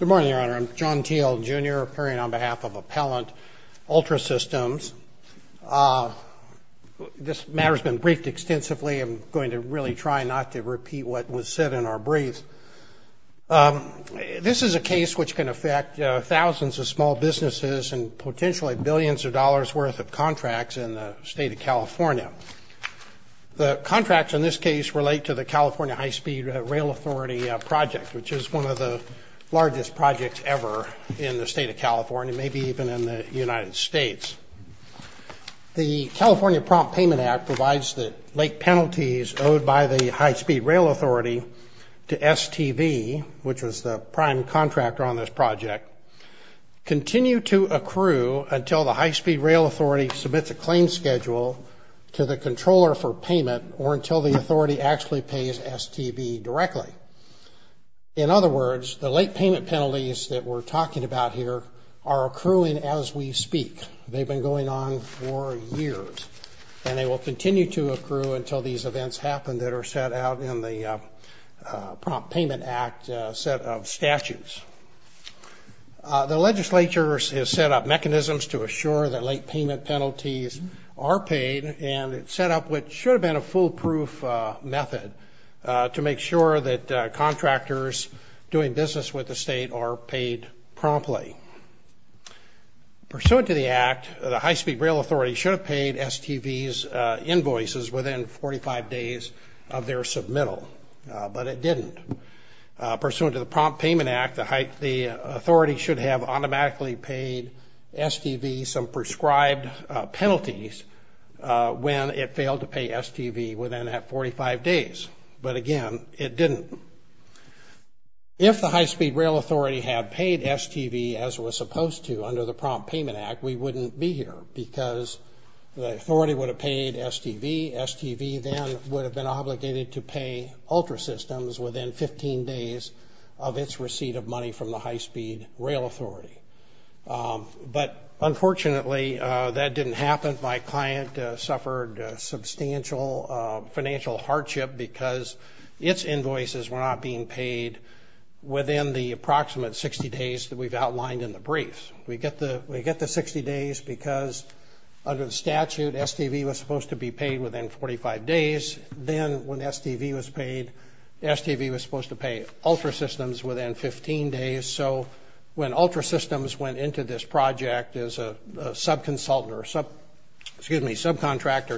Good morning, Your Honor. I'm John Thiel, Jr., appearing on behalf of Appellant Ultrasystems. This matter has been briefed extensively. I'm going to really try not to repeat what was said in our brief. This is a case which can affect thousands of small businesses and potentially billions of dollars worth of contracts in the state of California. The contracts in this case relate to the California High-Speed Rail Authority project, which is one of the largest projects ever in the state of California, maybe even in the United States. The California Prompt Payment Act provides that late penalties owed by the High-Speed Rail Authority to STV, which was the prime contractor on this project, continue to accrue until the High-Speed Rail Authority submits a claim schedule to the controller for payment or until the authority actually pays STV directly. In other words, the late payment penalties that we're talking about here are accruing as we speak. They've been going on for years, and they will continue to accrue until these events happen that are set out in the Prompt Payment Act set of statutes. The legislature has set up mechanisms to assure that late payment penalties are paid, and it's set up what should have been a foolproof method to make sure that contractors doing business with the state are paid promptly. Pursuant to the act, the High-Speed Rail Authority should have paid STV's invoices within 45 days of their submittal, but it didn't. Pursuant to the Prompt Payment Act, the authority should have automatically paid STV some prescribed penalties when it failed to pay STV within that 45 days, but again, it didn't. If the High-Speed Rail Authority had paid STV as it was supposed to under the Prompt Payment Act, we wouldn't be here because the authority would have paid STV. STV then would have been obligated to pay Ultrasystems within 15 days of its receipt of money from the High-Speed Rail Authority. But unfortunately, that didn't happen. My client suffered substantial financial hardship because its invoices were not being paid within the approximate 60 days that we've outlined in the briefs. We get the 60 days because under the statute, STV was supposed to be paid within 45 days. Then when STV was paid, STV was supposed to pay Ultrasystems within 15 days. So when Ultrasystems went into this project as a subcontractor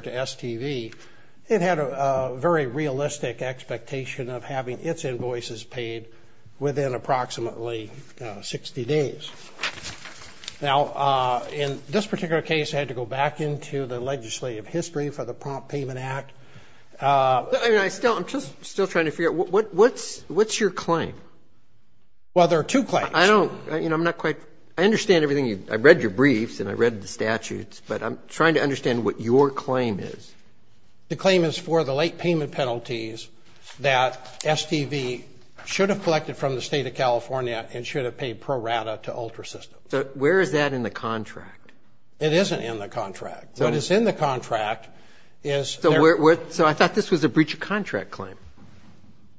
to STV, it had a very realistic expectation of having its invoices paid within approximately 60 days. Now, in this particular case, I had to go back into the legislative history for the Prompt Payment Act. I'm just still trying to figure out, what's your claim? Well, there are two claims. I don't, you know, I'm not quite, I understand everything. I read your briefs and I read the statutes, but I'm trying to understand what your claim is. The claim is for the late payment penalties that STV should have collected from the State of California and should have paid pro rata to Ultrasystems. So where is that in the contract? It isn't in the contract. What is in the contract is there. So I thought this was a breach of contract claim.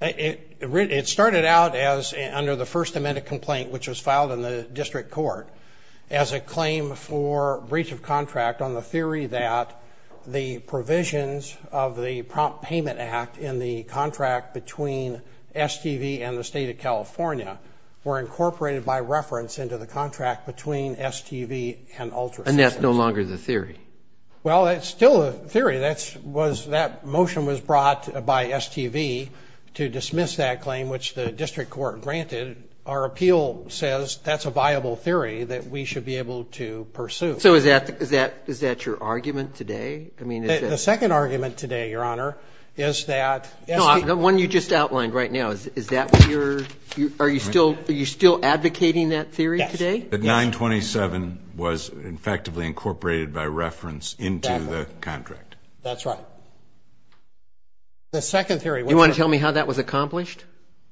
It started out as, under the first amendment complaint, which was filed in the district court, as a claim for breach of contract on the theory that the provisions of the Prompt Payment Act in the contract between STV and the State of California were incorporated by reference into the contract between STV and Ultrasystems. And that's no longer the theory? Well, it's still a theory. That motion was brought by STV to dismiss that claim, which the district court granted. Our appeal says that's a viable theory that we should be able to pursue. So is that your argument today? The second argument today, Your Honor, is that STV The one you just outlined right now, is that what you're, are you still advocating that theory today? That 927 was effectively incorporated by reference into the contract. That's right. The second theory, which You want to tell me how that was accomplished?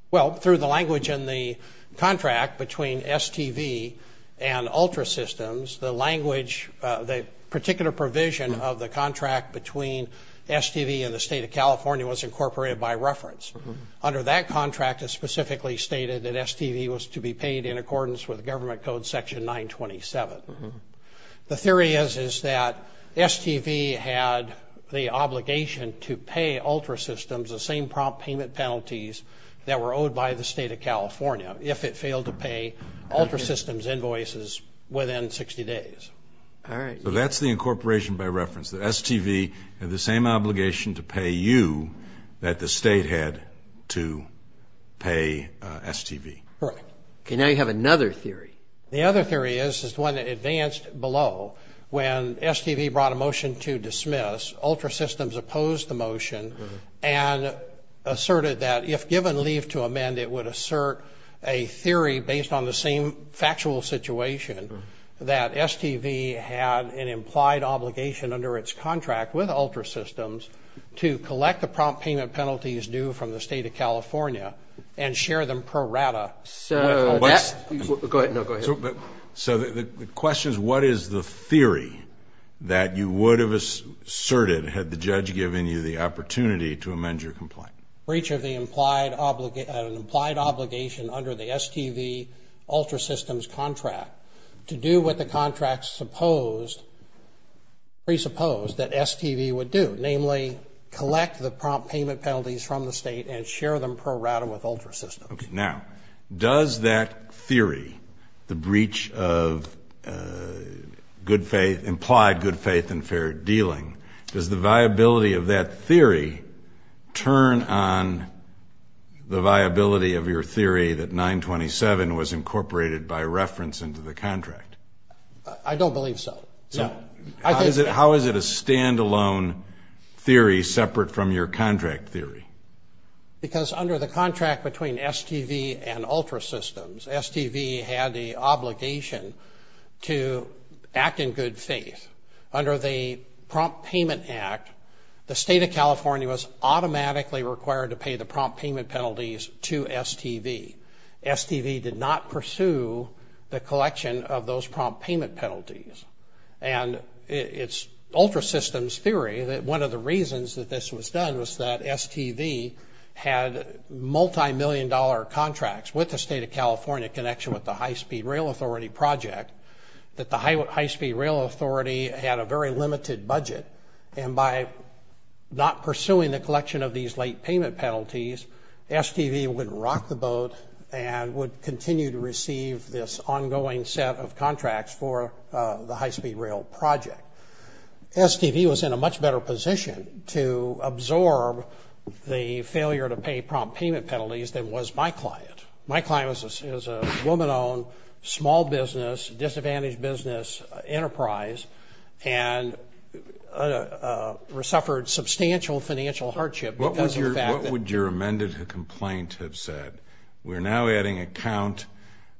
Well, through the language in the contract between STV and Ultrasystems, the language, the particular provision of the contract between STV and the State of California was incorporated by reference. Under that contract, it specifically stated that STV was to be paid in accordance with Government Code Section 927. The theory is, is that STV had the obligation to pay Ultrasystems the same prompt payment penalties that were owed by the State of California, if it failed to pay Ultrasystems' invoices within 60 days. All right. So that's the incorporation by reference, that STV had the same obligation to pay you that the State had to pay STV. Correct. Okay, now you have another theory. The other theory is, is the one that advanced below. When STV brought a motion to dismiss, Ultrasystems opposed the motion and asserted that if given leave to amend, it would assert a theory based on the same factual situation that STV had an implied obligation under its contract with Ultrasystems to collect the prompt payment penalties due from the State of California and share them pro rata. So that's... Go ahead. No, go ahead. So the question is, what is the theory that you would have asserted had the judge given you the opportunity to amend your complaint? Breach of the implied obligation under the STV-Ultrasystems contract to do what the contract presupposed that STV would do, namely collect the prompt payment penalties from the State and share them pro rata with Ultrasystems. Okay. Now, does that theory, the breach of good faith, implied good faith and fair dealing, does the viability of that theory turn on the viability of your theory that 927 was incorporated by reference into the contract? I don't believe so. How is it a standalone theory separate from your contract theory? Because under the contract between STV and Ultrasystems, STV had the obligation to act in good faith under the Prompt Payment Act. The State of California was automatically required to pay the prompt payment penalties to STV. STV did not pursue the collection of those prompt payment penalties. And it's Ultrasystems' theory that one of the reasons that this was done was that STV had multimillion-dollar contracts with the State of California in connection with the High-Speed Rail Authority project that the High-Speed Rail Authority had a very limited budget. And by not pursuing the collection of these late payment penalties, STV would rock the boat and would continue to receive this ongoing set of contracts for the High-Speed Rail project. STV was in a much better position to absorb the failure to pay prompt payment penalties than was my client. My client is a woman-owned, small business, disadvantaged business enterprise and suffered substantial financial hardship because of the fact that... What would your amended complaint have said? We're now adding a count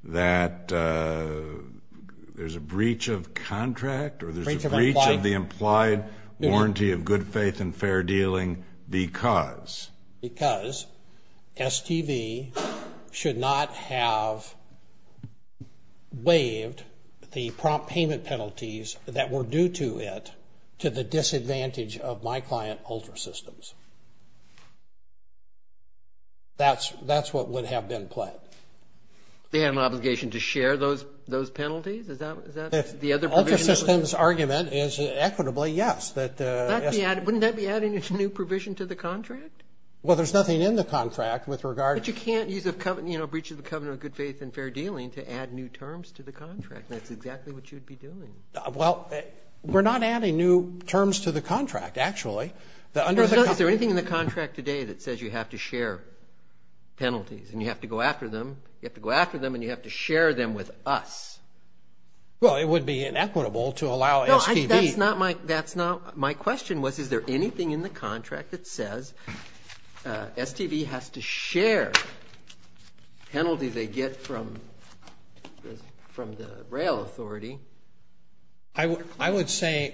that there's a breach of contract or there's a breach of the implied warranty of good faith and fair dealing because... STV should not have waived the prompt payment penalties that were due to it to the disadvantage of my client, Ultrasystems. That's what would have been pled. They had an obligation to share those penalties? Ultrasystems' argument is, equitably, yes. Wouldn't that be adding a new provision to the contract? Well, there's nothing in the contract with regard... But you can't use a breach of the covenant of good faith and fair dealing to add new terms to the contract. That's exactly what you'd be doing. Well, we're not adding new terms to the contract, actually. Is there anything in the contract today that says you have to share penalties and you have to go after them and you have to share them with us? Well, it would be inequitable to allow STV... That's not my question. Is there anything in the contract that says STV has to share penalties they get from the rail authority? I would say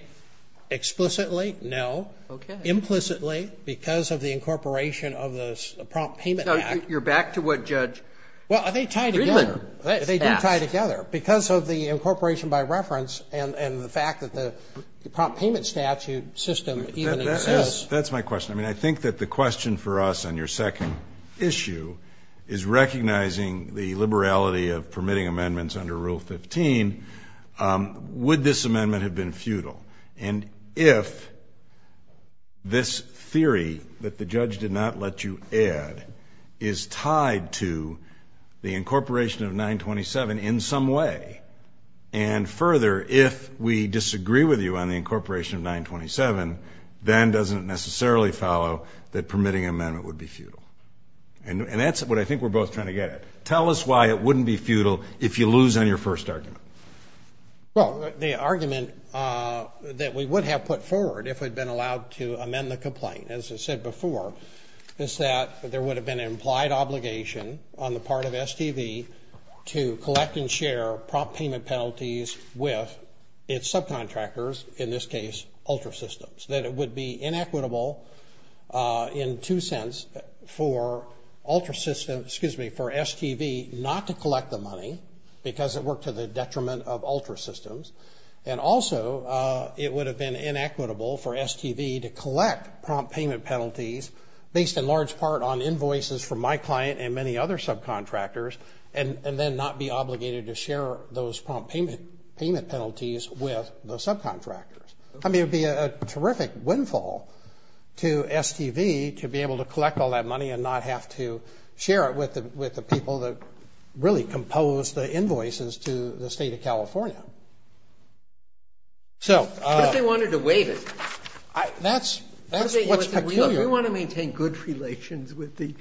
explicitly, no. Okay. Implicitly, because of the incorporation of the prompt payment act. You're back to what Judge Friedman asked. They do tie together because of the incorporation by reference and the fact that the prompt payment statute system even exists. That's my question. I mean, I think that the question for us on your second issue is recognizing the liberality of permitting amendments under Rule 15. Would this amendment have been futile? And if this theory that the judge did not let you add is tied to the incorporation of 927 in some way and further, if we disagree with you on the incorporation of 927, then doesn't it necessarily follow that permitting an amendment would be futile? And that's what I think we're both trying to get at. Tell us why it wouldn't be futile if you lose on your first argument. Well, the argument that we would have put forward if we'd been allowed to amend the complaint, as I said before, is that there would have been an implied obligation on the part of STV to collect and share prompt payment penalties with its subcontractors, in this case Ultrasystems, that it would be inequitable in two sense for Ultrasystems, excuse me, for STV not to collect the money because it worked to the detriment of Ultrasystems. And also it would have been inequitable for STV to collect prompt payment penalties based in large part on invoices from my client and many other subcontractors and then not be obligated to share those prompt payment penalties with the subcontractors. I mean, it would be a terrific windfall to STV to be able to collect all that money and not have to share it with the people that really composed the invoices to the State of California. But they wanted to waive it. That's what's peculiar. We want to maintain good relations with the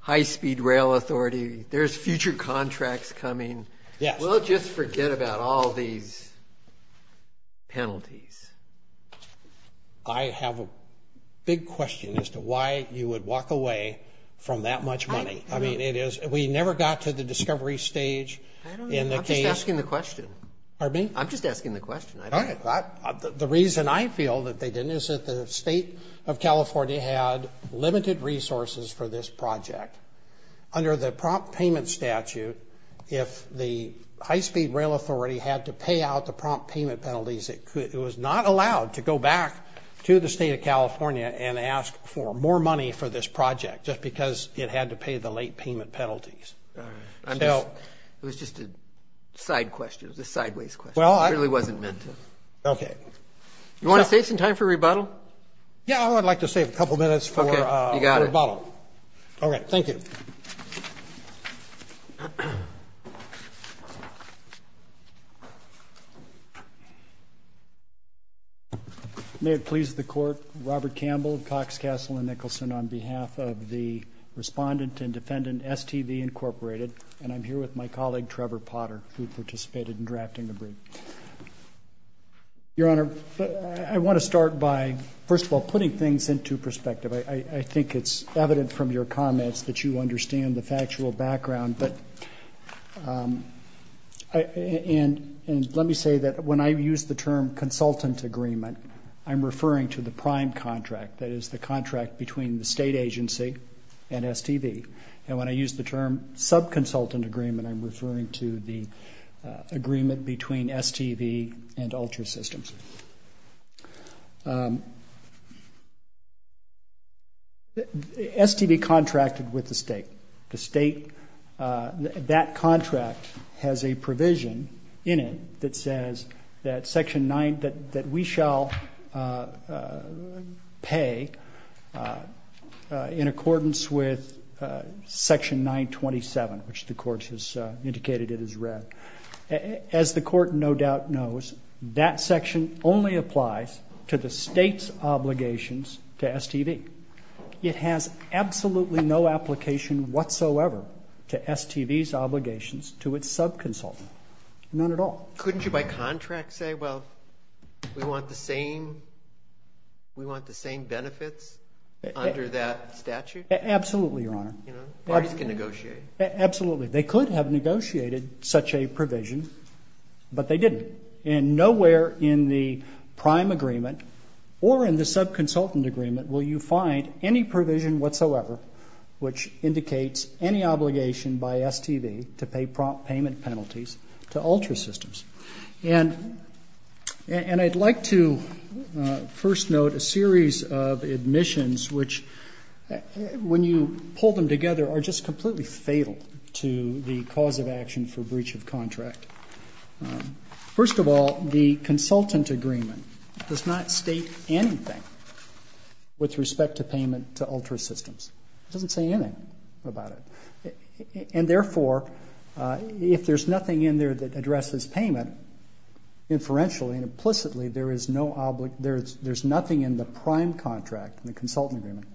high-speed rail authority. There's future contracts coming. Yes. We'll just forget about all these penalties. I have a big question as to why you would walk away from that much money. I mean, we never got to the discovery stage in the case. I'm just asking the question. Pardon me? I'm just asking the question. All right. The reason I feel that they didn't is that the State of California had limited resources for this project. Under the prompt payment statute, if the high-speed rail authority had to pay out the prompt payment penalties, it was not allowed to go back to the State of California and ask for more money for this project just because it had to pay the late payment penalties. All right. It was just a side question. It was a sideways question. It really wasn't meant to. Okay. You want to save some time for rebuttal? Yeah, I would like to save a couple minutes for rebuttal. Okay. Thank you. May it please the Court, Robert Campbell, Cox, Castle, and Nicholson, on behalf of the Respondent and Defendant, STV Incorporated, and I'm here with my colleague, Trevor Potter, who participated in drafting the brief. Your Honor, I want to start by, first of all, putting things into perspective. I think it's evident from your comments that you understand the factual background. And let me say that when I use the term consultant agreement, I'm referring to the prime contract, that is, the contract between the State agency and STV. And when I use the term subconsultant agreement, I'm referring to the agreement between STV and Ultra Systems. STV contracted with the State. The State, that contract has a provision in it that says that Section 9, that we shall pay in accordance with Section 927, which the Court has indicated it has read. As the Court no doubt knows, that section only applies to the State's obligations to STV. It has absolutely no application whatsoever to STV's obligations to its subconsultant. None at all. Couldn't you by contract say, well, we want the same benefits under that statute? Absolutely, Your Honor. Parties can negotiate. Absolutely. They could have negotiated such a provision, but they didn't. And nowhere in the prime agreement or in the subconsultant agreement will you find any provision whatsoever which indicates any obligation by STV to pay prompt payment penalties to Ultra Systems. And I'd like to first note a series of admissions which, when you pull them together, are just completely fatal to the cause of action for breach of contract. First of all, the consultant agreement does not state anything with respect to payment to Ultra Systems. It doesn't say anything about it. And therefore, if there's nothing in there that addresses payment, inferentially and implicitly there's nothing in the prime contract in the consultant agreement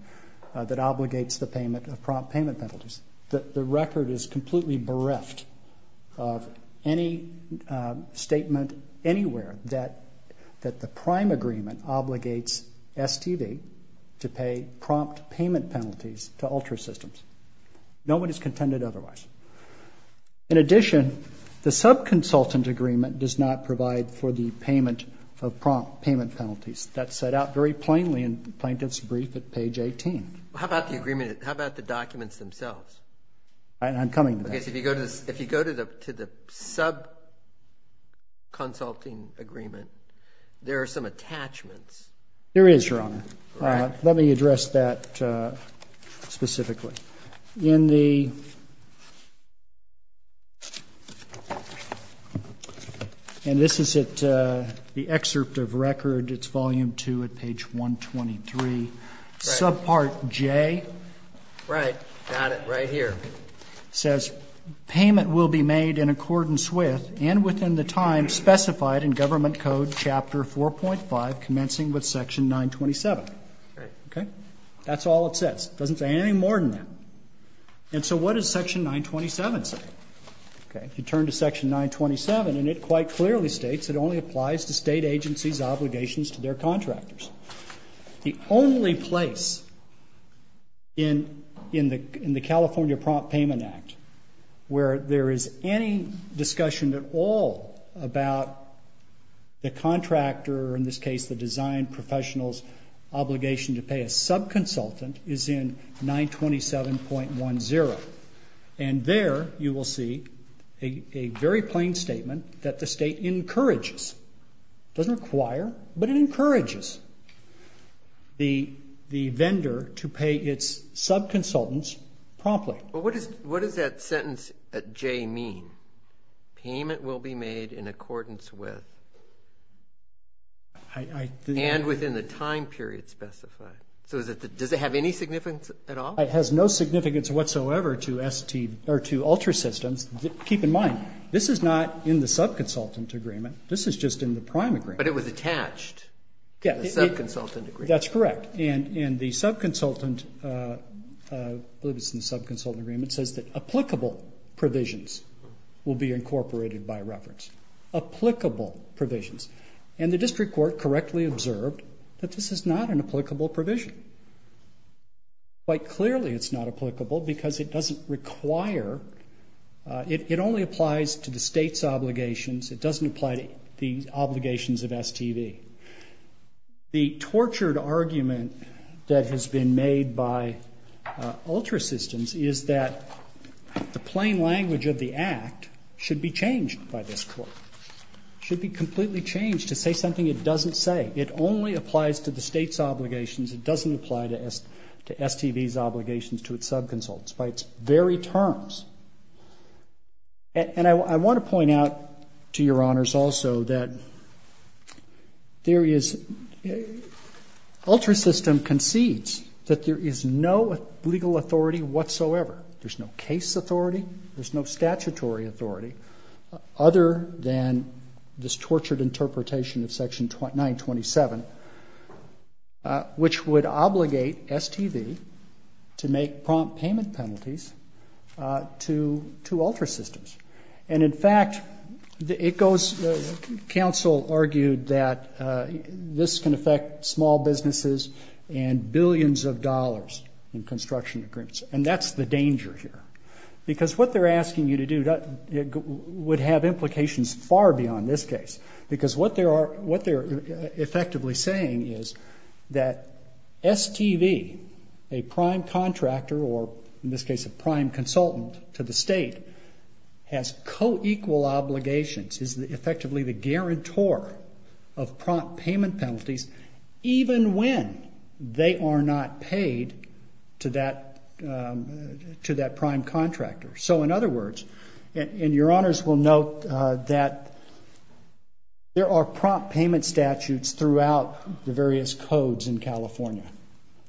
that obligates the payment of prompt payment penalties. The record is completely bereft of any statement anywhere that the prime agreement obligates STV to pay prompt payment penalties to Ultra Systems. No one is contended otherwise. In addition, the subconsultant agreement does not provide for the payment of prompt payment penalties. That's set out very plainly in the plaintiff's brief at page 18. How about the agreement? How about the documents themselves? I'm coming to that. If you go to the subconsulting agreement, there are some attachments. There is, Your Honor. Let me address that specifically. In the ‑‑and this is at the excerpt of record. It's volume 2 at page 123. Subpart J. Right. Got it. Right here. Says payment will be made in accordance with and within the time specified in government code chapter 4.5 commencing with section 927. Right. Okay? That's all it says. Doesn't say anything more than that. And so what does section 927 say? Okay. If you turn to section 927, and it quite clearly states it only applies to state agencies' obligations to their contractors. The only place in the California Prompt Payment Act where there is any discussion at all about the contractor, or in this case the design professional's obligation to pay a subconsultant, is in 927.10. And there you will see a very plain statement that the state encourages. It doesn't require, but it encourages the vendor to pay its subconsultants promptly. But what does that sentence at J mean? Payment will be made in accordance with and within the time period specified. So does it have any significance at all? It has no significance whatsoever to ULTRA systems. Keep in mind, this is not in the subconsultant agreement. This is just in the prime agreement. But it was attached to the subconsultant agreement. That's correct. And the subconsultant, I believe it's in the subconsultant agreement, says that applicable provisions will be incorporated by reference. Applicable provisions. And the district court correctly observed that this is not an applicable provision. Quite clearly it's not applicable because it doesn't require, it only applies to the state's obligations. It doesn't apply to the obligations of STV. The tortured argument that has been made by ULTRA systems is that the plain language of the act should be changed by this court. It should be completely changed to say something it doesn't say. It only applies to the state's obligations. It doesn't apply to STV's obligations to its subconsultants by its very terms. And I want to point out to your honors also that there is, ULTRA system concedes that there is no legal authority whatsoever. There's no case authority. There's no statutory authority other than this tortured interpretation of section 927, which would obligate STV to make prompt payment penalties to ULTRA systems. And in fact, it goes, council argued that this can affect small businesses and billions of dollars in construction agreements. And that's the danger here. Because what they're asking you to do would have implications far beyond this case. Because what they're effectively saying is that STV, a prime contractor or in this case a prime consultant to the state, has co-equal obligations, is effectively the guarantor of prompt payment penalties even when they are not paid to that prime contractor. So in other words, and your honors will note that there are prompt payment statutes throughout the various codes in California.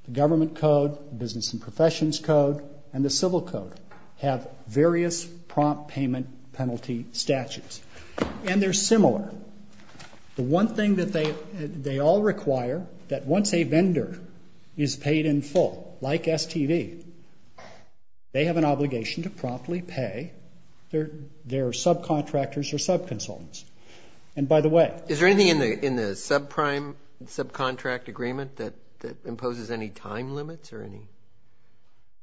The government code, business and professions code, and the civil code have various prompt payment penalty statutes. And they're similar. The one thing that they all require that once a vendor is paid in full, like STV, they have an obligation to promptly pay their subcontractors or subconsultants. And by the way. Is there anything in the subprime subcontract agreement that imposes any time limits or any?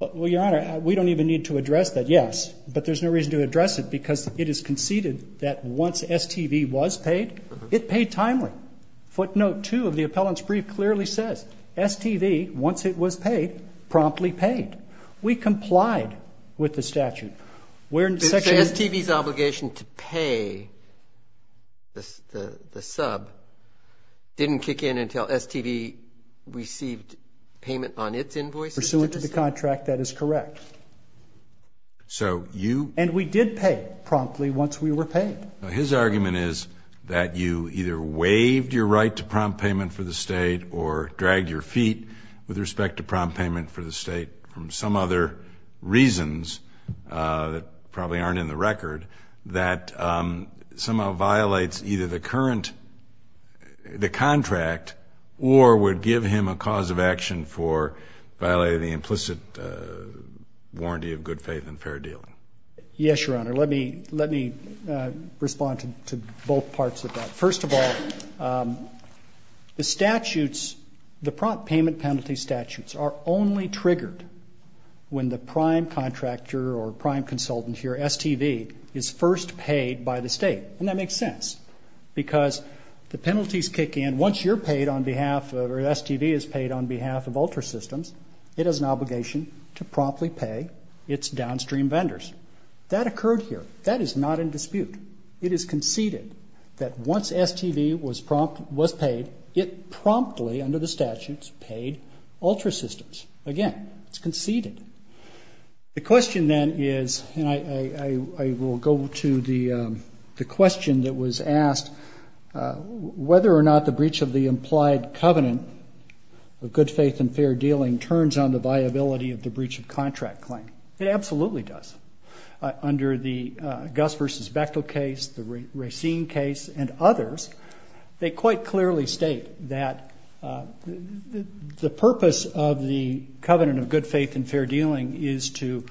Well, your honor, we don't even need to address that, yes. But there's no reason to address it because it is conceded that once STV was paid, it paid timely. Footnote 2 of the appellant's brief clearly says STV, once it was paid, promptly paid. We complied with the statute. We're in section. So STV's obligation to pay the sub didn't kick in until STV received payment on its invoices? Pursuant to the contract, that is correct. So you. And we did pay promptly once we were paid. His argument is that you either waived your right to prompt payment for the state or dragged your feet with respect to prompt payment for the state from some other reasons that probably aren't in the record that somehow violates either the current, the contract, or would give him a cause of action for violating the implicit warranty of good faith and fair deal. Yes, your honor. Let me respond to both parts of that. First of all, the statutes, the prompt payment penalty statutes, are only triggered when the prime contractor or prime consultant here, STV, is first paid by the state. And that makes sense because the penalties kick in. Once you're paid on behalf, or STV is paid on behalf of Ultra Systems, it has an obligation to promptly pay its downstream vendors. That occurred here. That is not in dispute. It is conceded that once STV was paid, it promptly, under the statutes, paid Ultra Systems. Again, it's conceded. The question then is, and I will go to the question that was asked, whether or not the breach of the implied covenant of good faith and fair dealing turns on the viability of the breach of contract claim. It absolutely does. Under the Gus versus Bechtel case, the Racine case, and others, they quite clearly state that the purpose of the covenant of good faith and fair dealing is so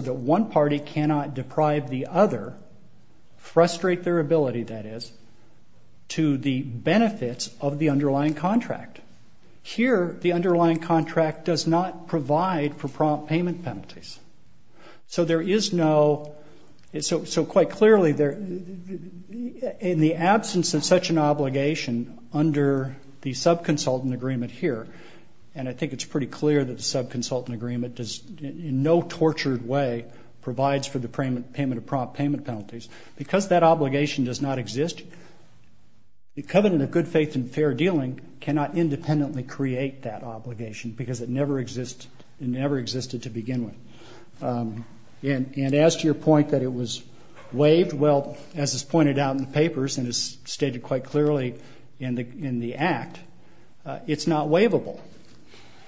that one party cannot deprive the other, frustrate their ability, that is, to the benefits of the underlying contract. Here, the underlying contract does not provide for prompt payment penalties. So there is no, so quite clearly, in the absence of such an obligation, under the subconsultant agreement here, and I think it's pretty clear that the subconsultant agreement does, in no tortured way, provides for the payment of prompt payment penalties. Because that obligation does not exist, the covenant of good faith and fair dealing cannot independently create that obligation because it never existed to begin with. And as to your point that it was waived, well, as is pointed out in the papers and is stated quite clearly in the Act, it's not waivable.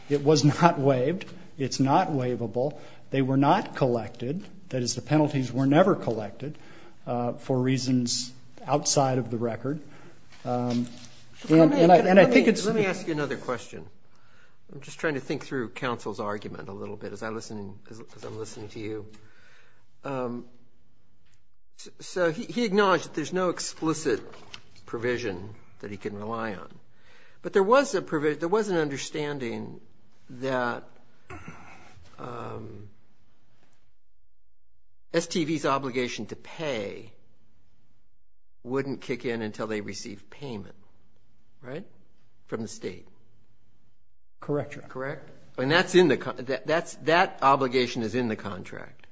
It was not waived. It's not waivable. They were not collected, that is, the penalties were never collected, for reasons outside of the record. And I think it's... Let me ask you another question. I'm just trying to think through counsel's argument a little bit as I'm listening to you. So he acknowledged that there's no explicit provision that he can rely on. But there was a provision, there was an understanding that STV's obligation to pay wouldn't kick in until they receive payment, right, from the state. Correct, Your Honor. Correct? And that obligation is in the contract.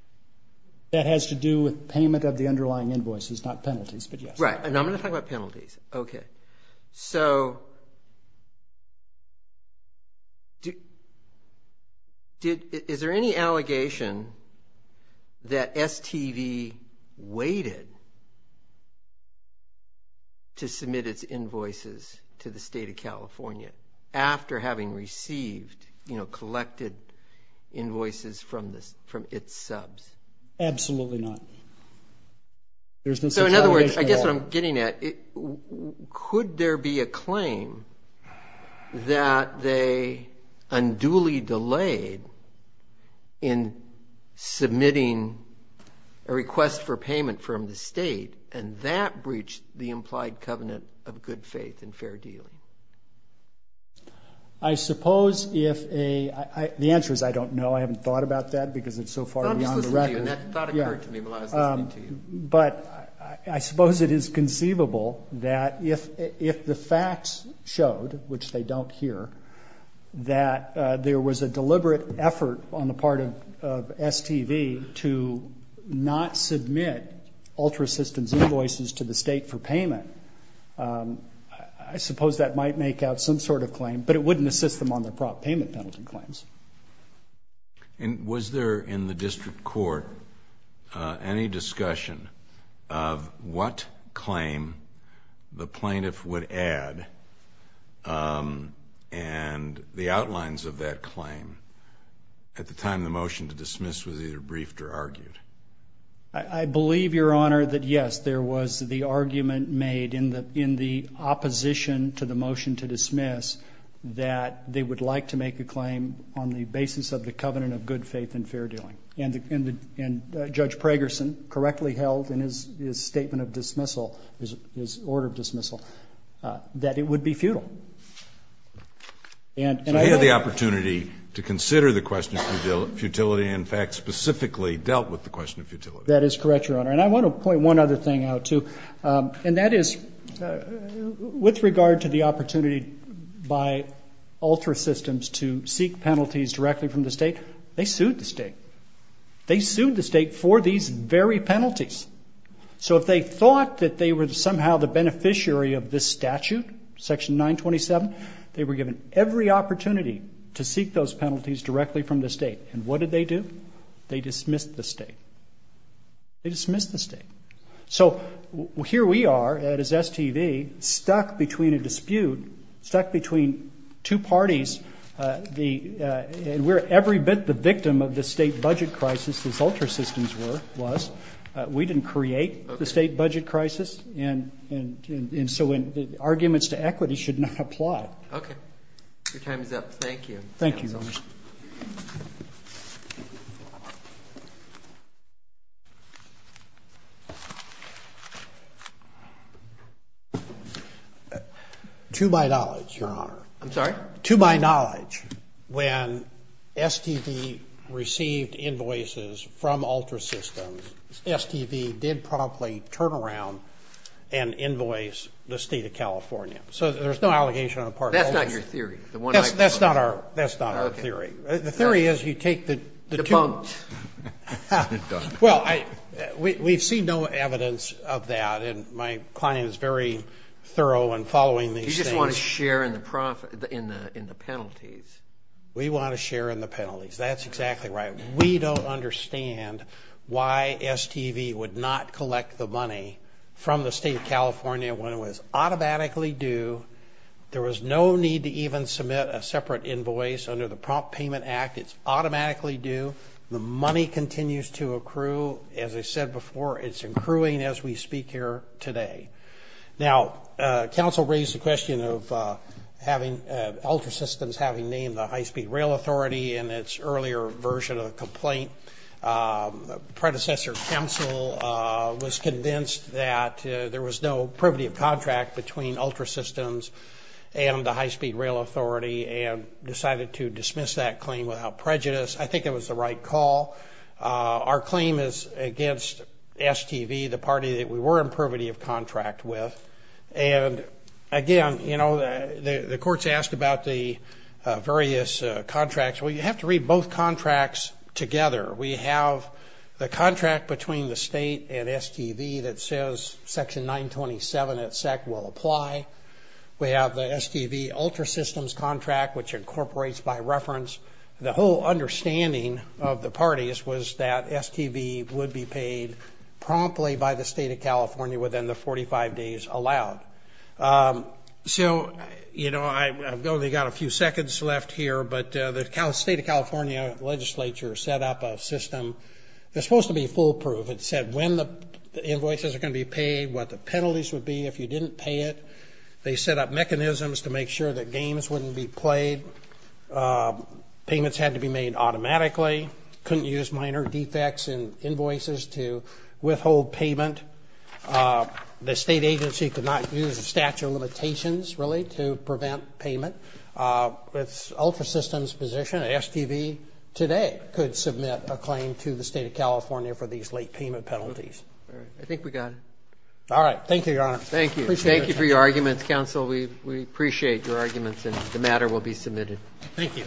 That has to do with payment of the underlying invoices, not penalties, but yes. Right. And I'm going to talk about penalties. Okay. So is there any allegation that STV waited to submit its invoices to the state of California after having received, you know, collected invoices from its subs? Absolutely not. So in other words, I guess what I'm getting at, could there be a claim that they unduly delayed in submitting a request for payment from the state and that breached the implied covenant of good faith and fair dealing? I suppose if a... The answer is I don't know. I haven't thought about that because it's so far beyond the record. And that thought occurred to me when I was listening to you. But I suppose it is conceivable that if the facts showed, which they don't here, that there was a deliberate effort on the part of STV to not submit ultra-assistance invoices to the state for payment, I suppose that might make out some sort of claim, but it wouldn't assist them on their prop payment penalty claims. And was there in the district court any discussion of what claim the plaintiff would add and the outlines of that claim at the time the motion to dismiss was either briefed or argued? I believe, Your Honor, that yes, there was the argument made in the opposition to the motion to dismiss that they would like to make a claim on the basis of the covenant of good faith and fair dealing. And Judge Pragerson correctly held in his statement of dismissal, his order of dismissal, that it would be futile. So he had the opportunity to consider the question of futility and, in fact, specifically dealt with the question of futility. That is correct, Your Honor. And I want to point one other thing out, too. And that is with regard to the opportunity by ultra-assistance to seek penalties directly from the state, they sued the state. They sued the state for these very penalties. So if they thought that they were somehow the beneficiary of this statute, Section 927, they were given every opportunity to seek those penalties directly from the state. And what did they do? They dismissed the state. They dismissed the state. So here we are, that is STV, stuck between a dispute, stuck between two parties. And we're every bit the victim of the state budget crisis, as ultra-assistance was. We didn't create the state budget crisis. And so arguments to equity should not apply. Okay. Your time is up. Thank you. Thank you, Your Honor. To my knowledge, Your Honor. I'm sorry? To my knowledge, when STV received invoices from ultra-systems, STV did promptly turn around and invoice the state of California. So there's no allegation on the part of the ultra-systems. That's not your theory. That's not our theory. The theory is you take the two of them. Well, we've seen no evidence of that. And my client is very thorough in following these things. You just want to share in the penalties. We want to share in the penalties. That's exactly right. We don't understand why STV would not collect the money from the state of California when it was automatically due. There was no need to even submit a separate invoice under the Prompt Payment Act. It's automatically due. The money continues to accrue. As I said before, it's accruing as we speak here today. Now, counsel raised the question of having ultra-systems having named the high-speed rail authority in its earlier version of the complaint. Predecessor counsel was convinced that there was no privity of contract between ultra-systems and the high-speed rail authority and decided to dismiss that claim without prejudice. I think it was the right call. Our claim is against STV, the party that we were in privity of contract with. And, again, you know, the courts asked about the various contracts. Well, you have to read both contracts together. We have the contract between the state and STV that says Section 927 at SEC will apply. We have the STV ultra-systems contract, which incorporates by reference. The whole understanding of the parties was that STV would be paid promptly by the state of California within the 45 days allowed. So, you know, I've only got a few seconds left here, but the state of California legislature set up a system that's supposed to be foolproof. It said when the invoices are going to be paid, what the penalties would be if you didn't pay it. They set up mechanisms to make sure that games wouldn't be played. Payments had to be made automatically. Couldn't use minor defects in invoices to withhold payment. The state agency could not use a statute of limitations, really, to prevent payment. With ultra-systems position, STV today could submit a claim to the state of California for these late payment penalties. I think we got it. All right. Thank you, Your Honor. Thank you. Thank you for your arguments, counsel. We appreciate your arguments, and the matter will be submitted. Thank you.